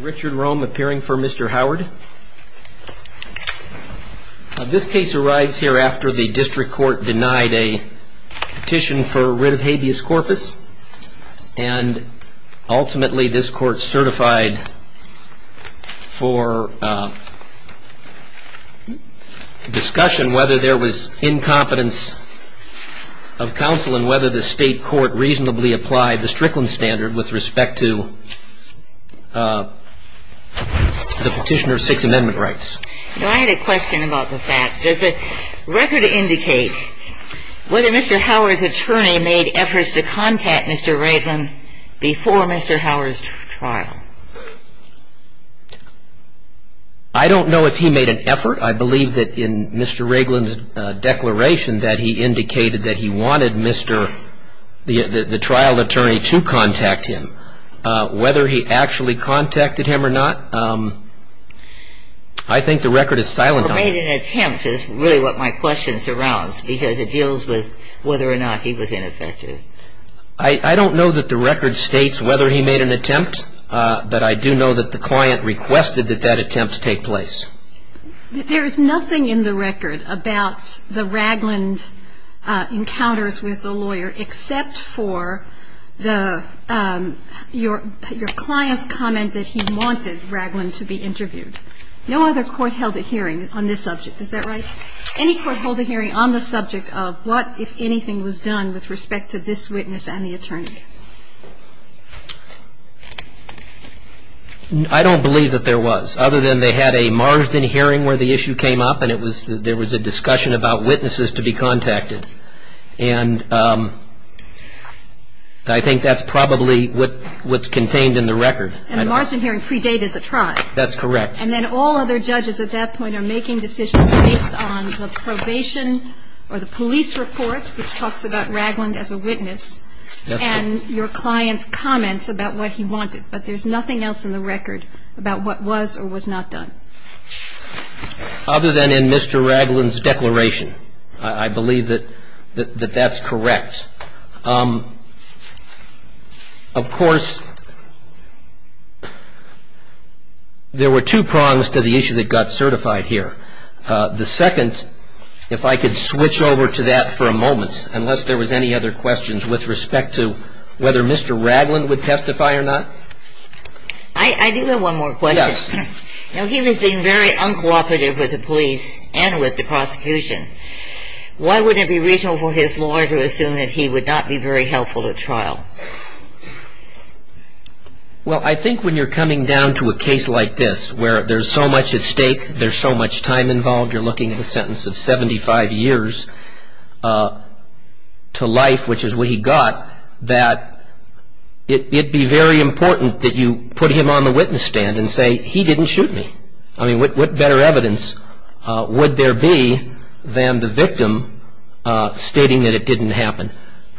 Richard Rome appearing for Mr. Howard this case arrives here after the district court denied a petition for rid of habeas corpus and ultimately this court certified for discussion whether there was incompetence of counsel and whether the state court reasonably applied the Strickland standard with the petitioner's Sixth Amendment rights. I had a question about the facts. Does the record indicate whether Mr. Howard's attorney made efforts to contact Mr. Raglan before Mr. Howard's trial? I don't know if he made an effort. I believe that in Mr. Raglan's declaration that he indicated that he wanted Mr. the trial attorney to contact him. I don't know whether he actually contacted him or not. I think the record is silent on that. Or made an attempt is really what my question surrounds because it deals with whether or not he was ineffective. I don't know that the record states whether he made an attempt, but I do know that the client requested that that attempt take place. There is nothing in the record about the Raglan encounters with the lawyer except for your client's comment that he wanted Raglan to be interviewed. No other court held a hearing on this subject. Is that right? Any court held a hearing on the subject of what, if anything, was done with respect to this witness and the attorney? I don't believe that there was, other than they had a Marsden hearing where the issue came up and there was a discussion about witnesses to be contacted. And I think that's probably what's contained in the record. And the Marsden hearing predated the trial. That's correct. And then all other judges at that point are making decisions based on the probation or the police report, which talks about Raglan as a witness. And your client's comments about what he wanted. But there's nothing else in the record about what was or was not done. Other than in Mr. Raglan's declaration, I believe that that's correct. Of course, there were two prongs to the issue that got certified here. The second, if I could switch over to that for a moment, unless there was any other questions with respect to whether Mr. Raglan would testify or not. I do have one more question. Yes. Now, he was being very uncooperative with the police and with the prosecution. Why wouldn't it be reasonable for his lawyer to assume that he would not be very helpful at trial? Well, I think when you're coming down to a case like this where there's so much at stake, there's so much time involved, you're looking at a sentence of 75 years to life, which is what he got, that it would be very important that you put him on the witness stand and say, he didn't shoot me. I mean, what better evidence would there be than the victim stating that it didn't happen?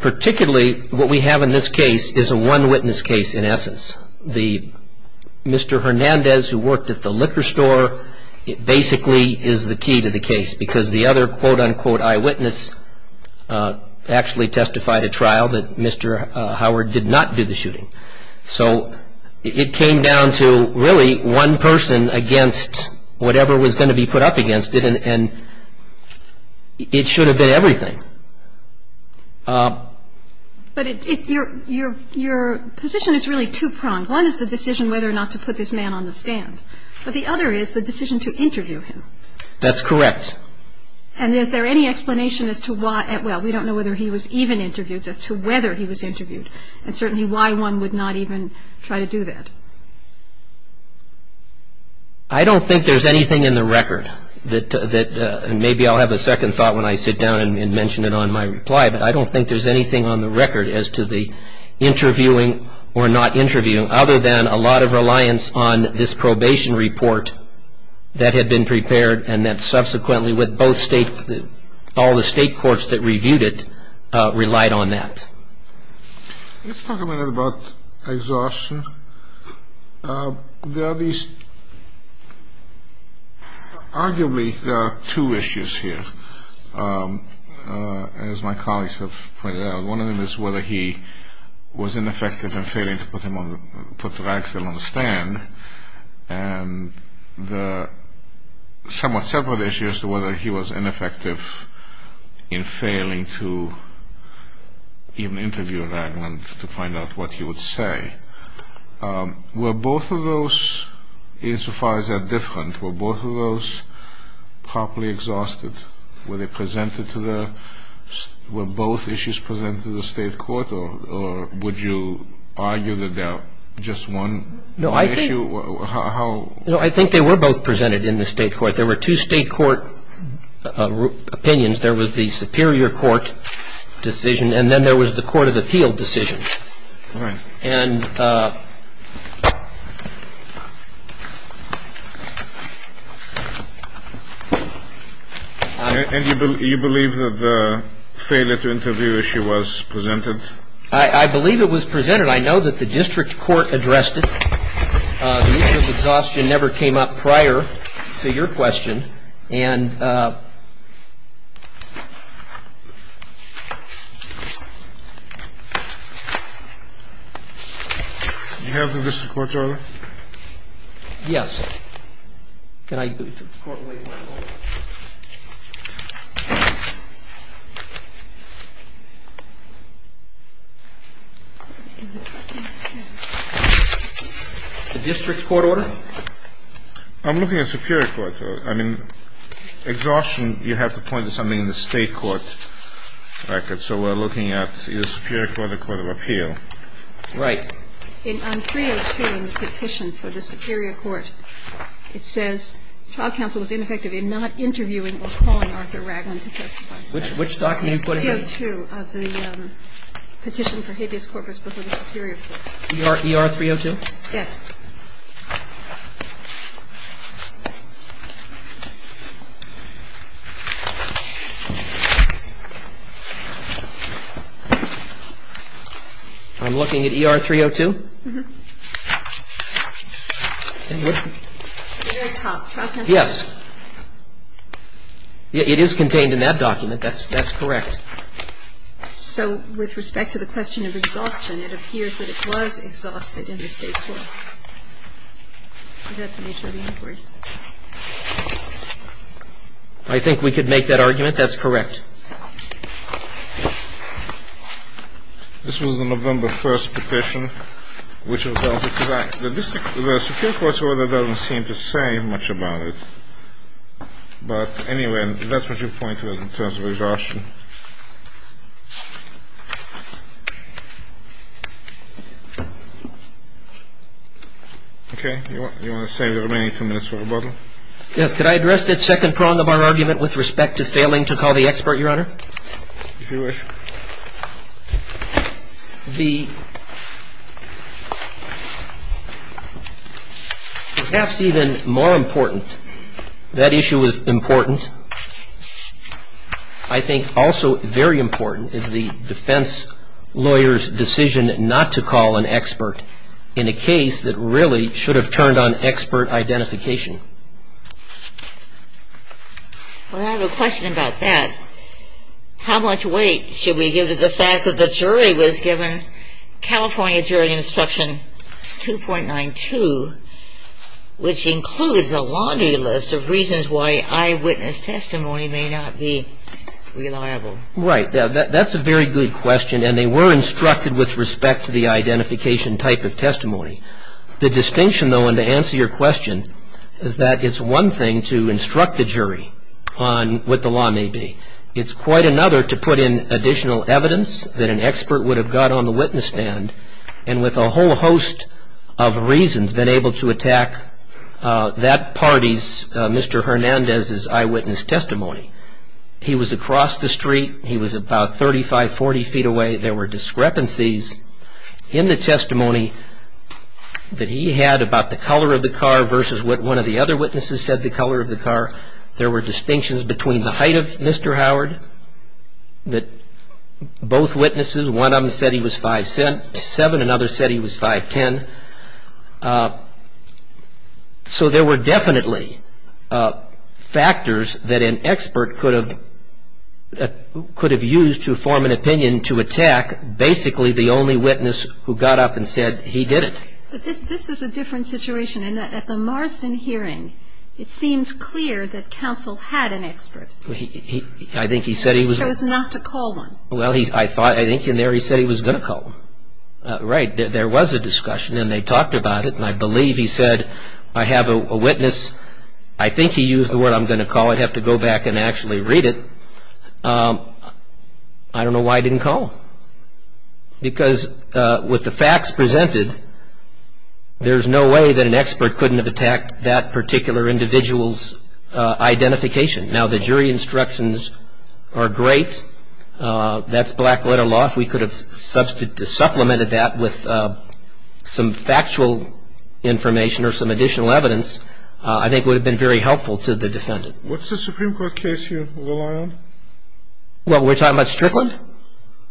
Particularly, what we have in this case is a one witness case in essence. Mr. Hernandez, who worked at the liquor store, basically is the key to the case, because the other quote-unquote eyewitness actually testified at trial that Mr. Howard did not do the shooting. So it came down to really one person against whatever was going to be put up against it, and it should have been everything. But your position is really two-pronged. One is the decision whether or not to put this man on the stand, but the other is the decision to interview him. That's correct. And is there any explanation as to why, well, we don't know whether he was even interviewed, as to whether he was interviewed, and certainly why one would not even try to do that? I don't think there's anything in the record that, and maybe I'll have a second thought when I sit down and mention it on my reply, but I don't think there's anything on the record as to the interviewing or not interviewing, other than a lot of reliance on this probation report that had been prepared and that subsequently with both state, all the state courts that reviewed it relied on that. Let's talk a minute about exhaustion. There are these, arguably there are two issues here, as my colleagues have pointed out. One of them is whether he was ineffective in failing to put Ragsdale on the stand, and the somewhat separate issue as to whether he was ineffective in failing to even interview Ragland to find out what he would say. Were both of those, insofar as they're different, were both of those properly exhausted? Were they presented to the, were both issues presented to the state court, or would you argue that they're just one issue? No, I think they were both presented in the state court. There were two state court opinions. There was the superior court decision, and then there was the court of appeal decision. Right. And you believe that the failure to interview issue was presented? I believe it was presented. I know that the district court addressed it. The issue of exhaustion never came up prior to your question. The District Court has a dissention. It says, not receiving the question but not agreeing to the district court decision, and I'm looking at Superior Court, I mean, except for the District Court, I'm looking at Superior You have to point to something in the State Court, record. Which document are you quoting here? It says, trial counsel was ineffective in not interviewing initially for the Superior Court, and referring this. What Mandal, did you have a word on that? I'm looking at E.R. 302. Yes. It is contained in that document. That's correct. So with respect to the question of exhaustion, it appears that it was exhausted in the State Court. I think we could make that argument. That's correct. This was the November 1st petition, which was held because the Secure Court's order doesn't seem to say much about it. But anyway, that's what you point to in terms of exhaustion. And I think that's what you're saying. Okay. You want to save the remaining two minutes for rebuttal? Yes. Could I address that second prong of our argument with respect to failing to call the expert, Your Honor? If you wish. The perhaps even more important, that issue is important. I think also very important is the defense lawyer's decision not to call an expert in a case that really should have turned on expert identification. Well, I have a question about that. How much weight should we give to the fact that the jury was given California Jury Instruction 2.92, which includes a laundry list of reasons why I witnessed that particular case, and that the testimony may not be reliable? Right. That's a very good question. And they were instructed with respect to the identification type of testimony. The distinction, though, and to answer your question, is that it's one thing to instruct the jury on what the law may be. It's quite another to put in additional evidence that an expert would have got on his eyewitness testimony. He was across the street. He was about 35, 40 feet away. There were discrepancies in the testimony that he had about the color of the car versus what one of the other witnesses said the color of the car. There were distinctions between the height of Mr. Howard that both witnesses, one of them said he was 5'7", another said he was 5'10". So there were definitely factors that an expert could have used to form an opinion to attack basically the only witness who got up and said he did it. But this is a different situation. At the Marsden hearing, it seemed clear that counsel had an expert. I think he said he was. He chose not to call one. Well, I think in there he said he was going to call one. Right. There was a discussion, and they talked about it. And I believe he said, I have a witness. I think he used the word I'm going to call. I'd have to go back and actually read it. I don't know why he didn't call. Because with the facts presented, there's no way that an expert couldn't have attacked that particular individual's identification. Now, the jury instructions are great. That's black-letter law. If we could have supplemented that with some factual information or some additional evidence, I think it would have been very helpful to the defendant. What's the Supreme Court case you rely on? Well, we're talking about Strickland?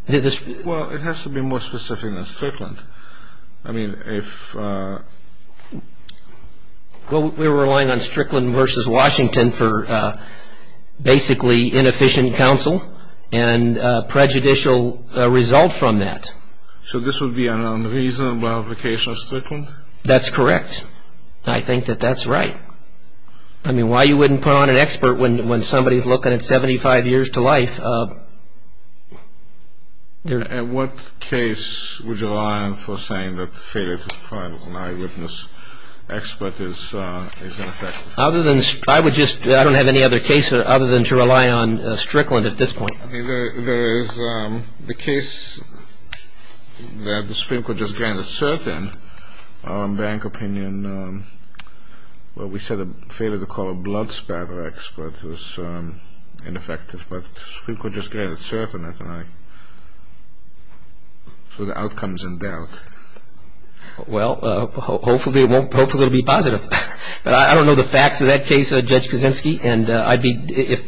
Well, it has to be more specific than Strickland. I mean, if... Well, we're relying on Strickland v. Washington for basically inefficient counsel and prejudicial result from that. So this would be an unreasonable application of Strickland? That's correct. I think that that's right. I mean, why you wouldn't put on an expert when somebody's looking at 75 years to life? What case would you rely on for saying that failure to find an eyewitness expert is ineffective? Other than... I would just... I don't have any other case other than to rely on Strickland at this point. There is the case that the Supreme Court just granted cert in. Our bank opinion... Well, we said a failure to call a blood spatter expert was ineffective, but the Supreme Court just granted cert in it, and I... So the outcome's in doubt. Well, hopefully it'll be positive. But I don't know the facts of that case, Judge Kuczynski, and I'd be...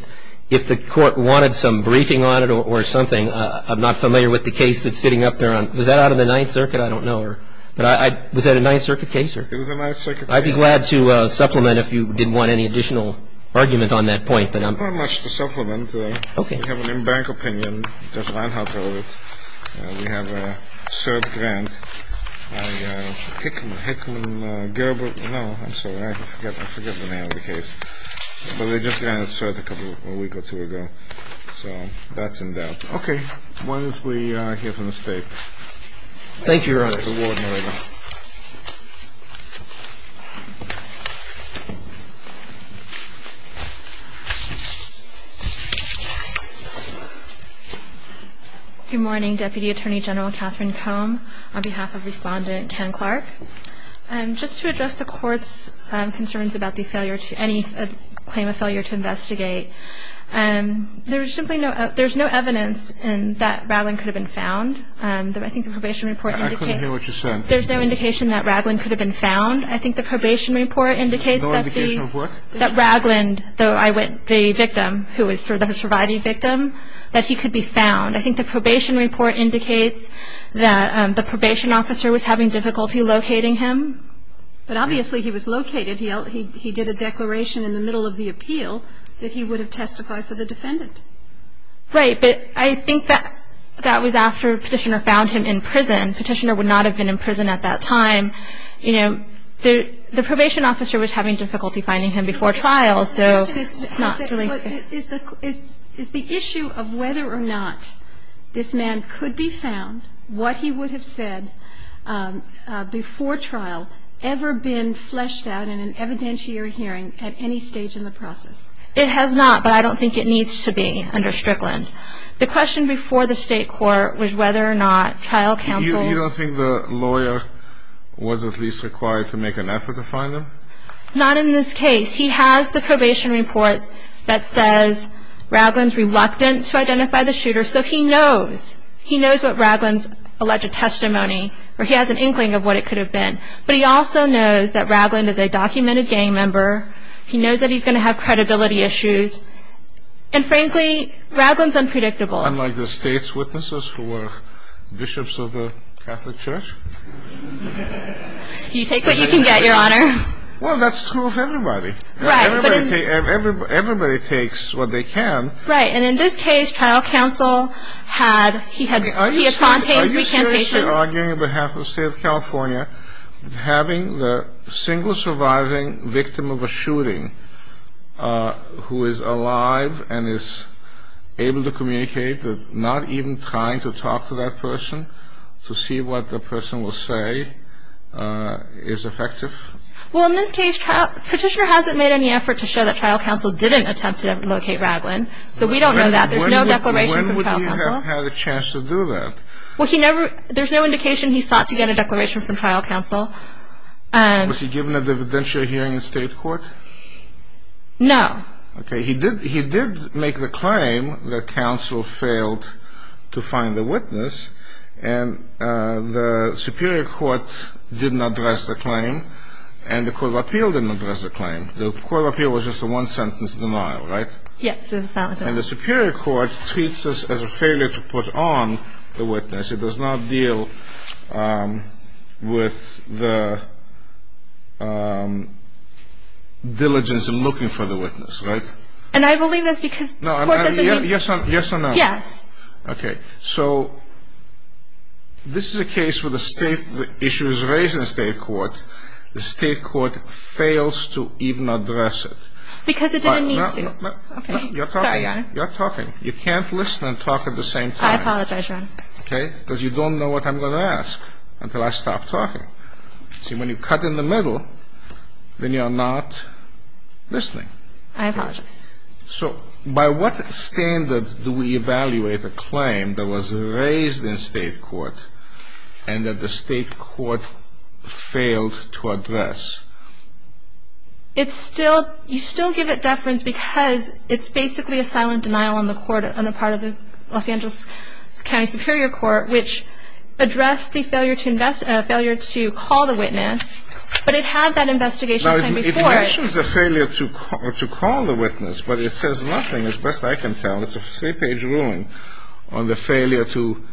If the court wanted some briefing on it or something, I'm not familiar with the case that's sitting up there on... Was that out of the Ninth Circuit? I don't know. But was that a Ninth Circuit case? It was a Ninth Circuit case. I'd be glad to supplement if you didn't want any additional argument on that point. Not much to supplement. Okay. We have an in-bank opinion. Judge Reinhardt held it. We have a cert grant. I, uh, Hickman, Hickman, uh, Gerber... No, I'm sorry. I forget the name of the case. But we just granted cert a couple... A week or two ago. So that's in doubt. Okay. Why don't we, uh, hear from the State? Thank you, Your Honor. You're more than welcome. Good morning, Deputy Attorney General Catherine Combe. On behalf of Respondent Ken Clark. Um, just to address the Court's, um, concerns about the failure to... Any claim of failure to investigate. Um, there's simply no... There's no evidence that Ragland could have been found. Um, I think the probation report indicates... I couldn't hear what you said. There's no indication that Ragland could have been found. I think the probation report indicates that the... No indication of what? That Ragland, though I went... The victim, who was sort of a surviving victim, that he could be found. I think the probation report indicates that, um, the probation officer was having difficulty locating him. But obviously he was located. He did a declaration in the middle of the appeal that he would have testified for the defendant. Right, but I think that... That was after Petitioner found him in prison. Petitioner would not have been in prison at that time. You know, the probation officer was having difficulty finding him before trial, so... Is the issue of whether or not this man could be found, what he would have said before trial ever been fleshed out in an evidentiary hearing at any stage in the process? It has not, but I don't think it needs to be under Strickland. The question before the state court was whether or not trial counsel... You don't think the lawyer was at least required to make an effort to find him? Not in this case. He has the probation report that says Ragland's reluctant to identify the shooter, so he knows. He knows what Ragland's alleged testimony, or he has an inkling of what it could have been. But he also knows that Ragland is a documented gang member. He knows that he's going to have credibility issues. And frankly, Ragland's unpredictable. Unlike the state's witnesses, who are bishops of the Catholic Church? You take what you can get, Your Honor. Well, that's true of everybody. Right. Everybody takes what they can. Right. And in this case, trial counsel had... He had Fontaine's recantation. Are you seriously arguing on behalf of the state of California that having the single surviving victim of a shooting who is alive and is able to communicate but not even trying to talk to that person to see what the person will say is effective? Well, in this case, petitioner hasn't made any effort to show that trial counsel didn't attempt to locate Ragland. So we don't know that. There's no declaration from trial counsel. When would he have had a chance to do that? Well, he never... There's no indication he sought to get a declaration from trial counsel. Was he given a dividentiary hearing in state court? No. Okay. He did make the claim that counsel failed to find the witness, and the superior court didn't address the claim. And the court of appeal didn't address the claim. The court of appeal was just a one-sentence denial, right? Yes. And the superior court treats this as a failure to put on the witness. It does not deal with the diligence in looking for the witness, right? And I believe that's because... Yes or no? Yes. Okay. So this is a case where the state issue is raised in state court and the state court fails to even address it. Because it didn't need to. Okay. Sorry, Your Honor. You're talking. You can't listen and talk at the same time. I apologize, Your Honor. Okay? Because you don't know what I'm going to ask until I stop talking. See, when you cut in the middle, then you're not listening. I apologize. So by what standard do we evaluate a claim that was raised in state court and that the state court failed to address? It's still... You still give it deference because it's basically a silent denial on the part of the Los Angeles County Superior Court which addressed the failure to call the witness, but it had that investigation... It mentions the failure to call the witness, but it says nothing, as best I can tell. It's a three-page ruling on the failure to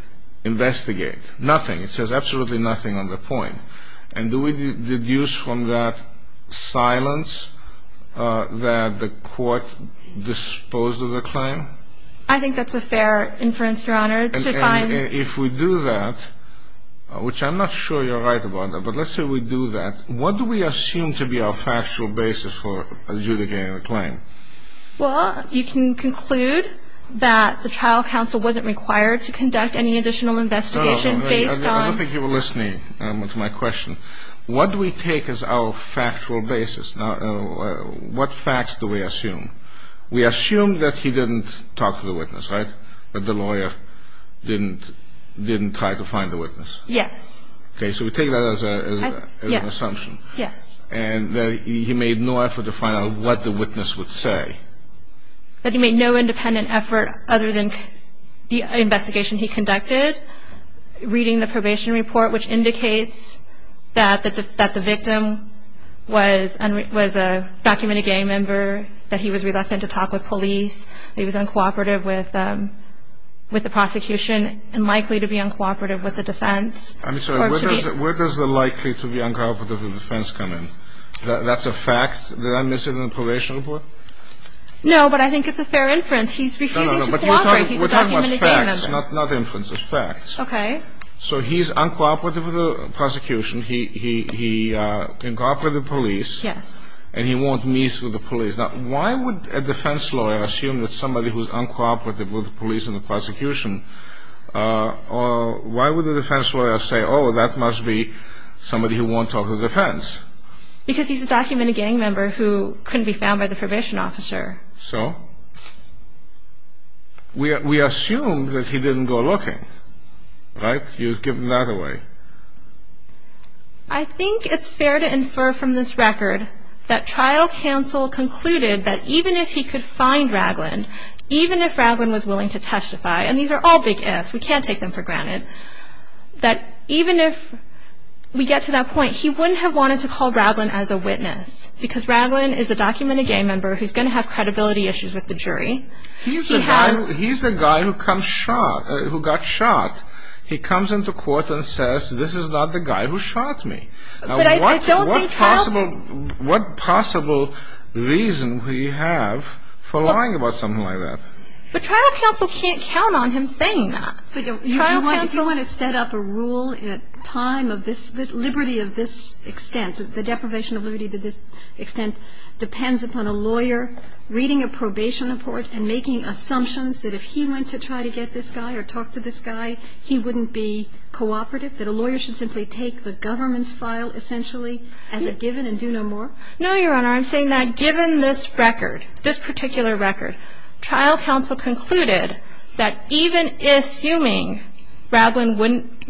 investigate. Nothing. It says absolutely nothing on the point. And do we deduce from that silence that the court disposed of the claim? I think that's a fair inference, Your Honor. And if we do that, which I'm not sure you're right about that, but let's say we do that, what do we assume to be our factual basis for adjudicating the claim? Well, you can conclude that the trial counsel wasn't required to conduct any additional investigation based on... I don't think you were listening to my question. What do we take as our factual basis? What facts do we assume? We assume that he didn't talk to the witness, right? That the lawyer didn't try to find the witness. Yes. Okay, so we take that as an assumption. Yes. And that he made no effort to find out what the witness would say. That he made no independent effort other than the investigation he conducted, reading the probation report, which indicates that the victim was a documented gay member, that he was reluctant to talk with police, that he was uncooperative with the prosecution, and likely to be uncooperative with the defense. I'm sorry. Where does the likely to be uncooperative with the defense come in? That's a fact that I missed in the probation report? No, but I think it's a fair inference. He's refusing to cooperate. He's a documented gay member. We're talking about facts, not inferences, facts. Okay. So he's uncooperative with the prosecution. He's uncooperative with the police. Yes. And he won't meet with the police. Now, why would a defense lawyer assume that somebody who's uncooperative with the police and the prosecution, why would the defense lawyer say, oh, that must be somebody who won't talk to the defense? Because he's a documented gay member who couldn't be found by the probation officer. So? We assume that he didn't go looking. Right? You've given that away. I think it's fair to infer from this record that trial counsel concluded that even if he could find Raglin, even if Raglin was willing to testify, and these are all big ifs, we can't take them for granted, that even if we get to that point, he wouldn't have wanted to call Raglin as a witness because Raglin is a documented gay member who's going to have credibility issues with the jury. He's the guy who got shot. He comes into court and says, this is not the guy who shot me. Now, what possible reason do you have for lying about something like that? But trial counsel can't count on him saying that. You want to set up a rule at time of this, the deprivation of liberty to this extent depends upon a lawyer reading a probation report and making assumptions that if he went to try to get this guy or talk to this guy, he wouldn't be cooperative, that a lawyer should simply take the government's file essentially as a given and do no more? No, Your Honor. I'm saying that given this record, this particular record, trial counsel concluded that even assuming Raglin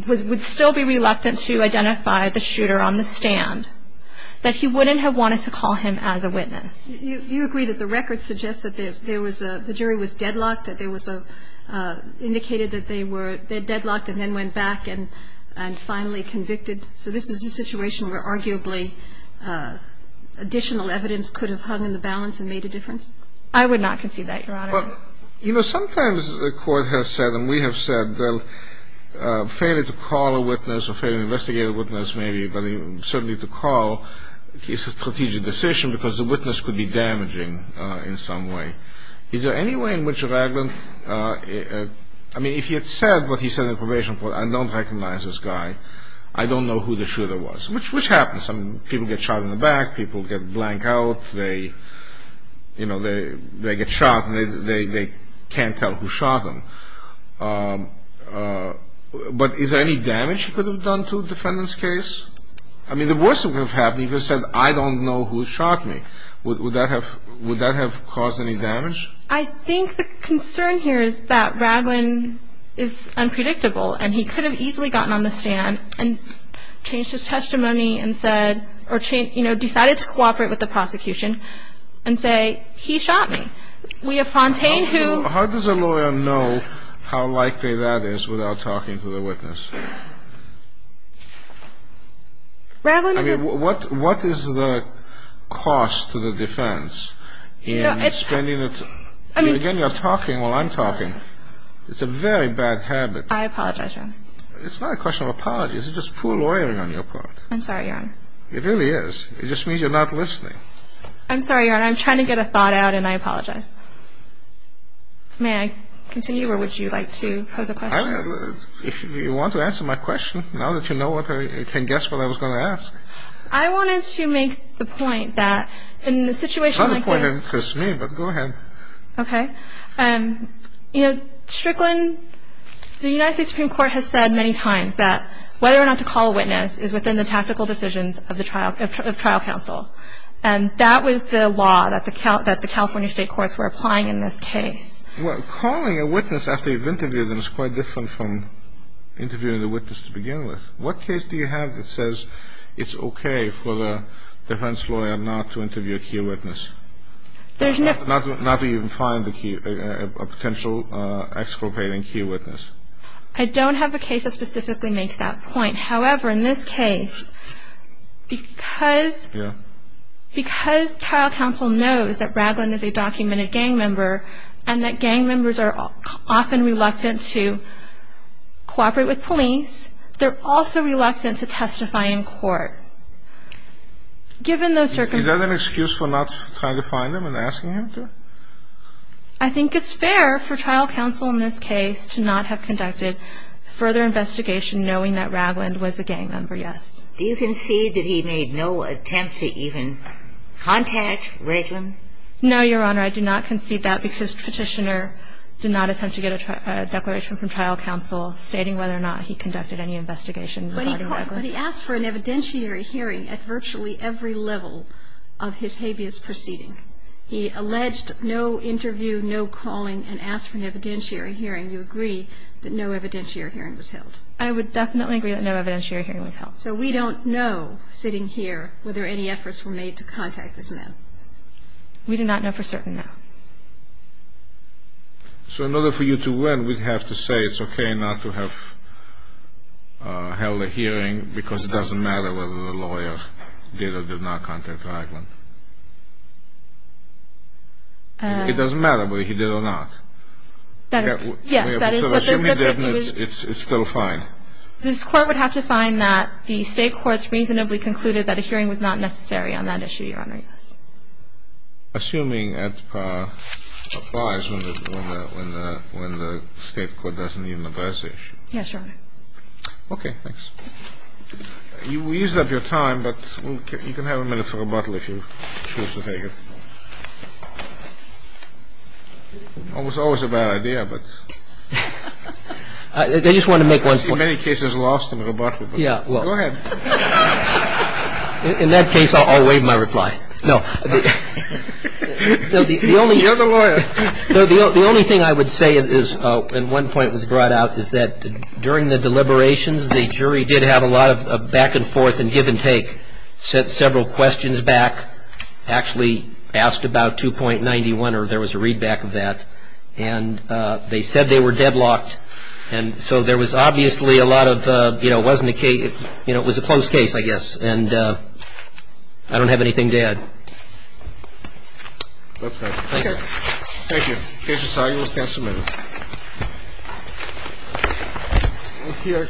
would still be reluctant to identify the shooter on the stand, that he wouldn't have wanted to call him as a witness. You agree that the record suggests that there was a the jury was deadlocked, that there was a indicated that they were deadlocked and then went back and finally convicted. So this is a situation where arguably additional evidence could have hung in the balance and made a difference? I would not concede that, Your Honor. You know, sometimes the court has said and we have said that failing to call a witness or failing to investigate a witness may be certainly to call is a strategic decision because the witness could be damaging in some way. Is there any way in which Raglin I mean, if he had said what he said in probation I don't recognize this guy. I don't know who the shooter was. Which happens. People get shot in the back. People get blanked out. They, you know, they get shot and they can't tell who shot them. But is there any damage he could have done to a defendant's case? I mean, the worst that could have happened he could have said I don't know who shot me. Would that have would that have caused any damage? I think the concern here is that Raglin is unpredictable and he could have easily gotten on the stand and changed his testimony and said or, you know, decided to cooperate with the prosecution and say he shot me. We have Fontaine who How does a lawyer know how likely that is without talking to the witness? Raglin is a What is the cost to the defense in spending I mean Again, you're talking while I'm talking. It's a very bad habit. I apologize, Your Honor. It's not a question of apologies. It's just poor lawyering on your part. I'm sorry, Your Honor. It really is. It just means you're not listening. I'm sorry, Your Honor. I'm trying to get a thought out and I apologize. May I continue or would you like to pose a question? If you want to answer my question now that you know you can guess what I was going to ask. I wanted to make the point that in the situation like this It's not a point that interests me but go ahead. Okay. You know Strickland the United States Supreme Court has said many times that whether or not to call a witness is within the tactical decisions of trial counsel and that was the law that the California State Courts were applying in this case. Calling a witness after you've interviewed the witness to begin with. What case do you have that says it's okay for the defense lawyer not to interview a key witness? There's no Not even find a key a potential exculpating key witness? I don't have a case that specifically makes that point. However, in this case because because trial counsel knows that Ragland is a documented gang member and that gang members are often reluctant to cooperate with police they're also reluctant to testify in court. Given those circumstances Is that an excuse for not trying to find him and asking him to? I think it's fair for trial counsel in this case to not have conducted further investigation knowing that Ragland was a gang member, yes. Do you concede that he made no attempt to even contact Ragland? No, Your Honor. I do not concede that because petitioner did not attempt to get a declaration from trial counsel stating whether or not he conducted any investigation regarding Ragland. But he asked for an evidentiary hearing at virtually every level of his habeas proceeding. He alleged no interview no calling and asked for an evidentiary hearing. Do you agree that no evidentiary hearing was held? I would definitely agree that no evidentiary hearing was held. So we don't know sitting here whether any efforts were made to contact this man? We do not know for certain now. So in order for you to win we'd have to say it's okay not to have held a hearing because it was not necessary on that issue, Your Honor? Yes. Assuming that applies when the State Court doesn't the issue. Yes, Your Honor. Okay. Thanks. You eased up your time, but you can go ahead with your questions. I can have a minute for rebuttal if you choose to take it. It was always a bad idea, but I just wanted to make one point. I see many cases lost in rebuttal, but go ahead. In that case I'll waive my reply. No. You're the lawyer. The only thing I would say is that during the deliberations the jury did have a lot of back and forth and give and take. Asked about 2. 91 or there was a read back of that. They said they were deadlocked. It was a closed case, I guess. I don't have anything to add. Thank you. Case is argued. We'll stand submitted. We're here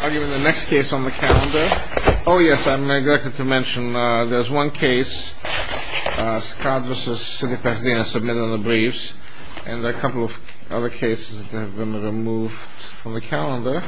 arguing the next case on the calendar. The address is submitted in the briefs. been removed from the calendar. Thank you. Thank you. Thank you. Thank you. Thank you. Thank you. Thank you. Thank you. Thank you. Thank you. Thank you. Thank you. Thank you. Thank you. Thank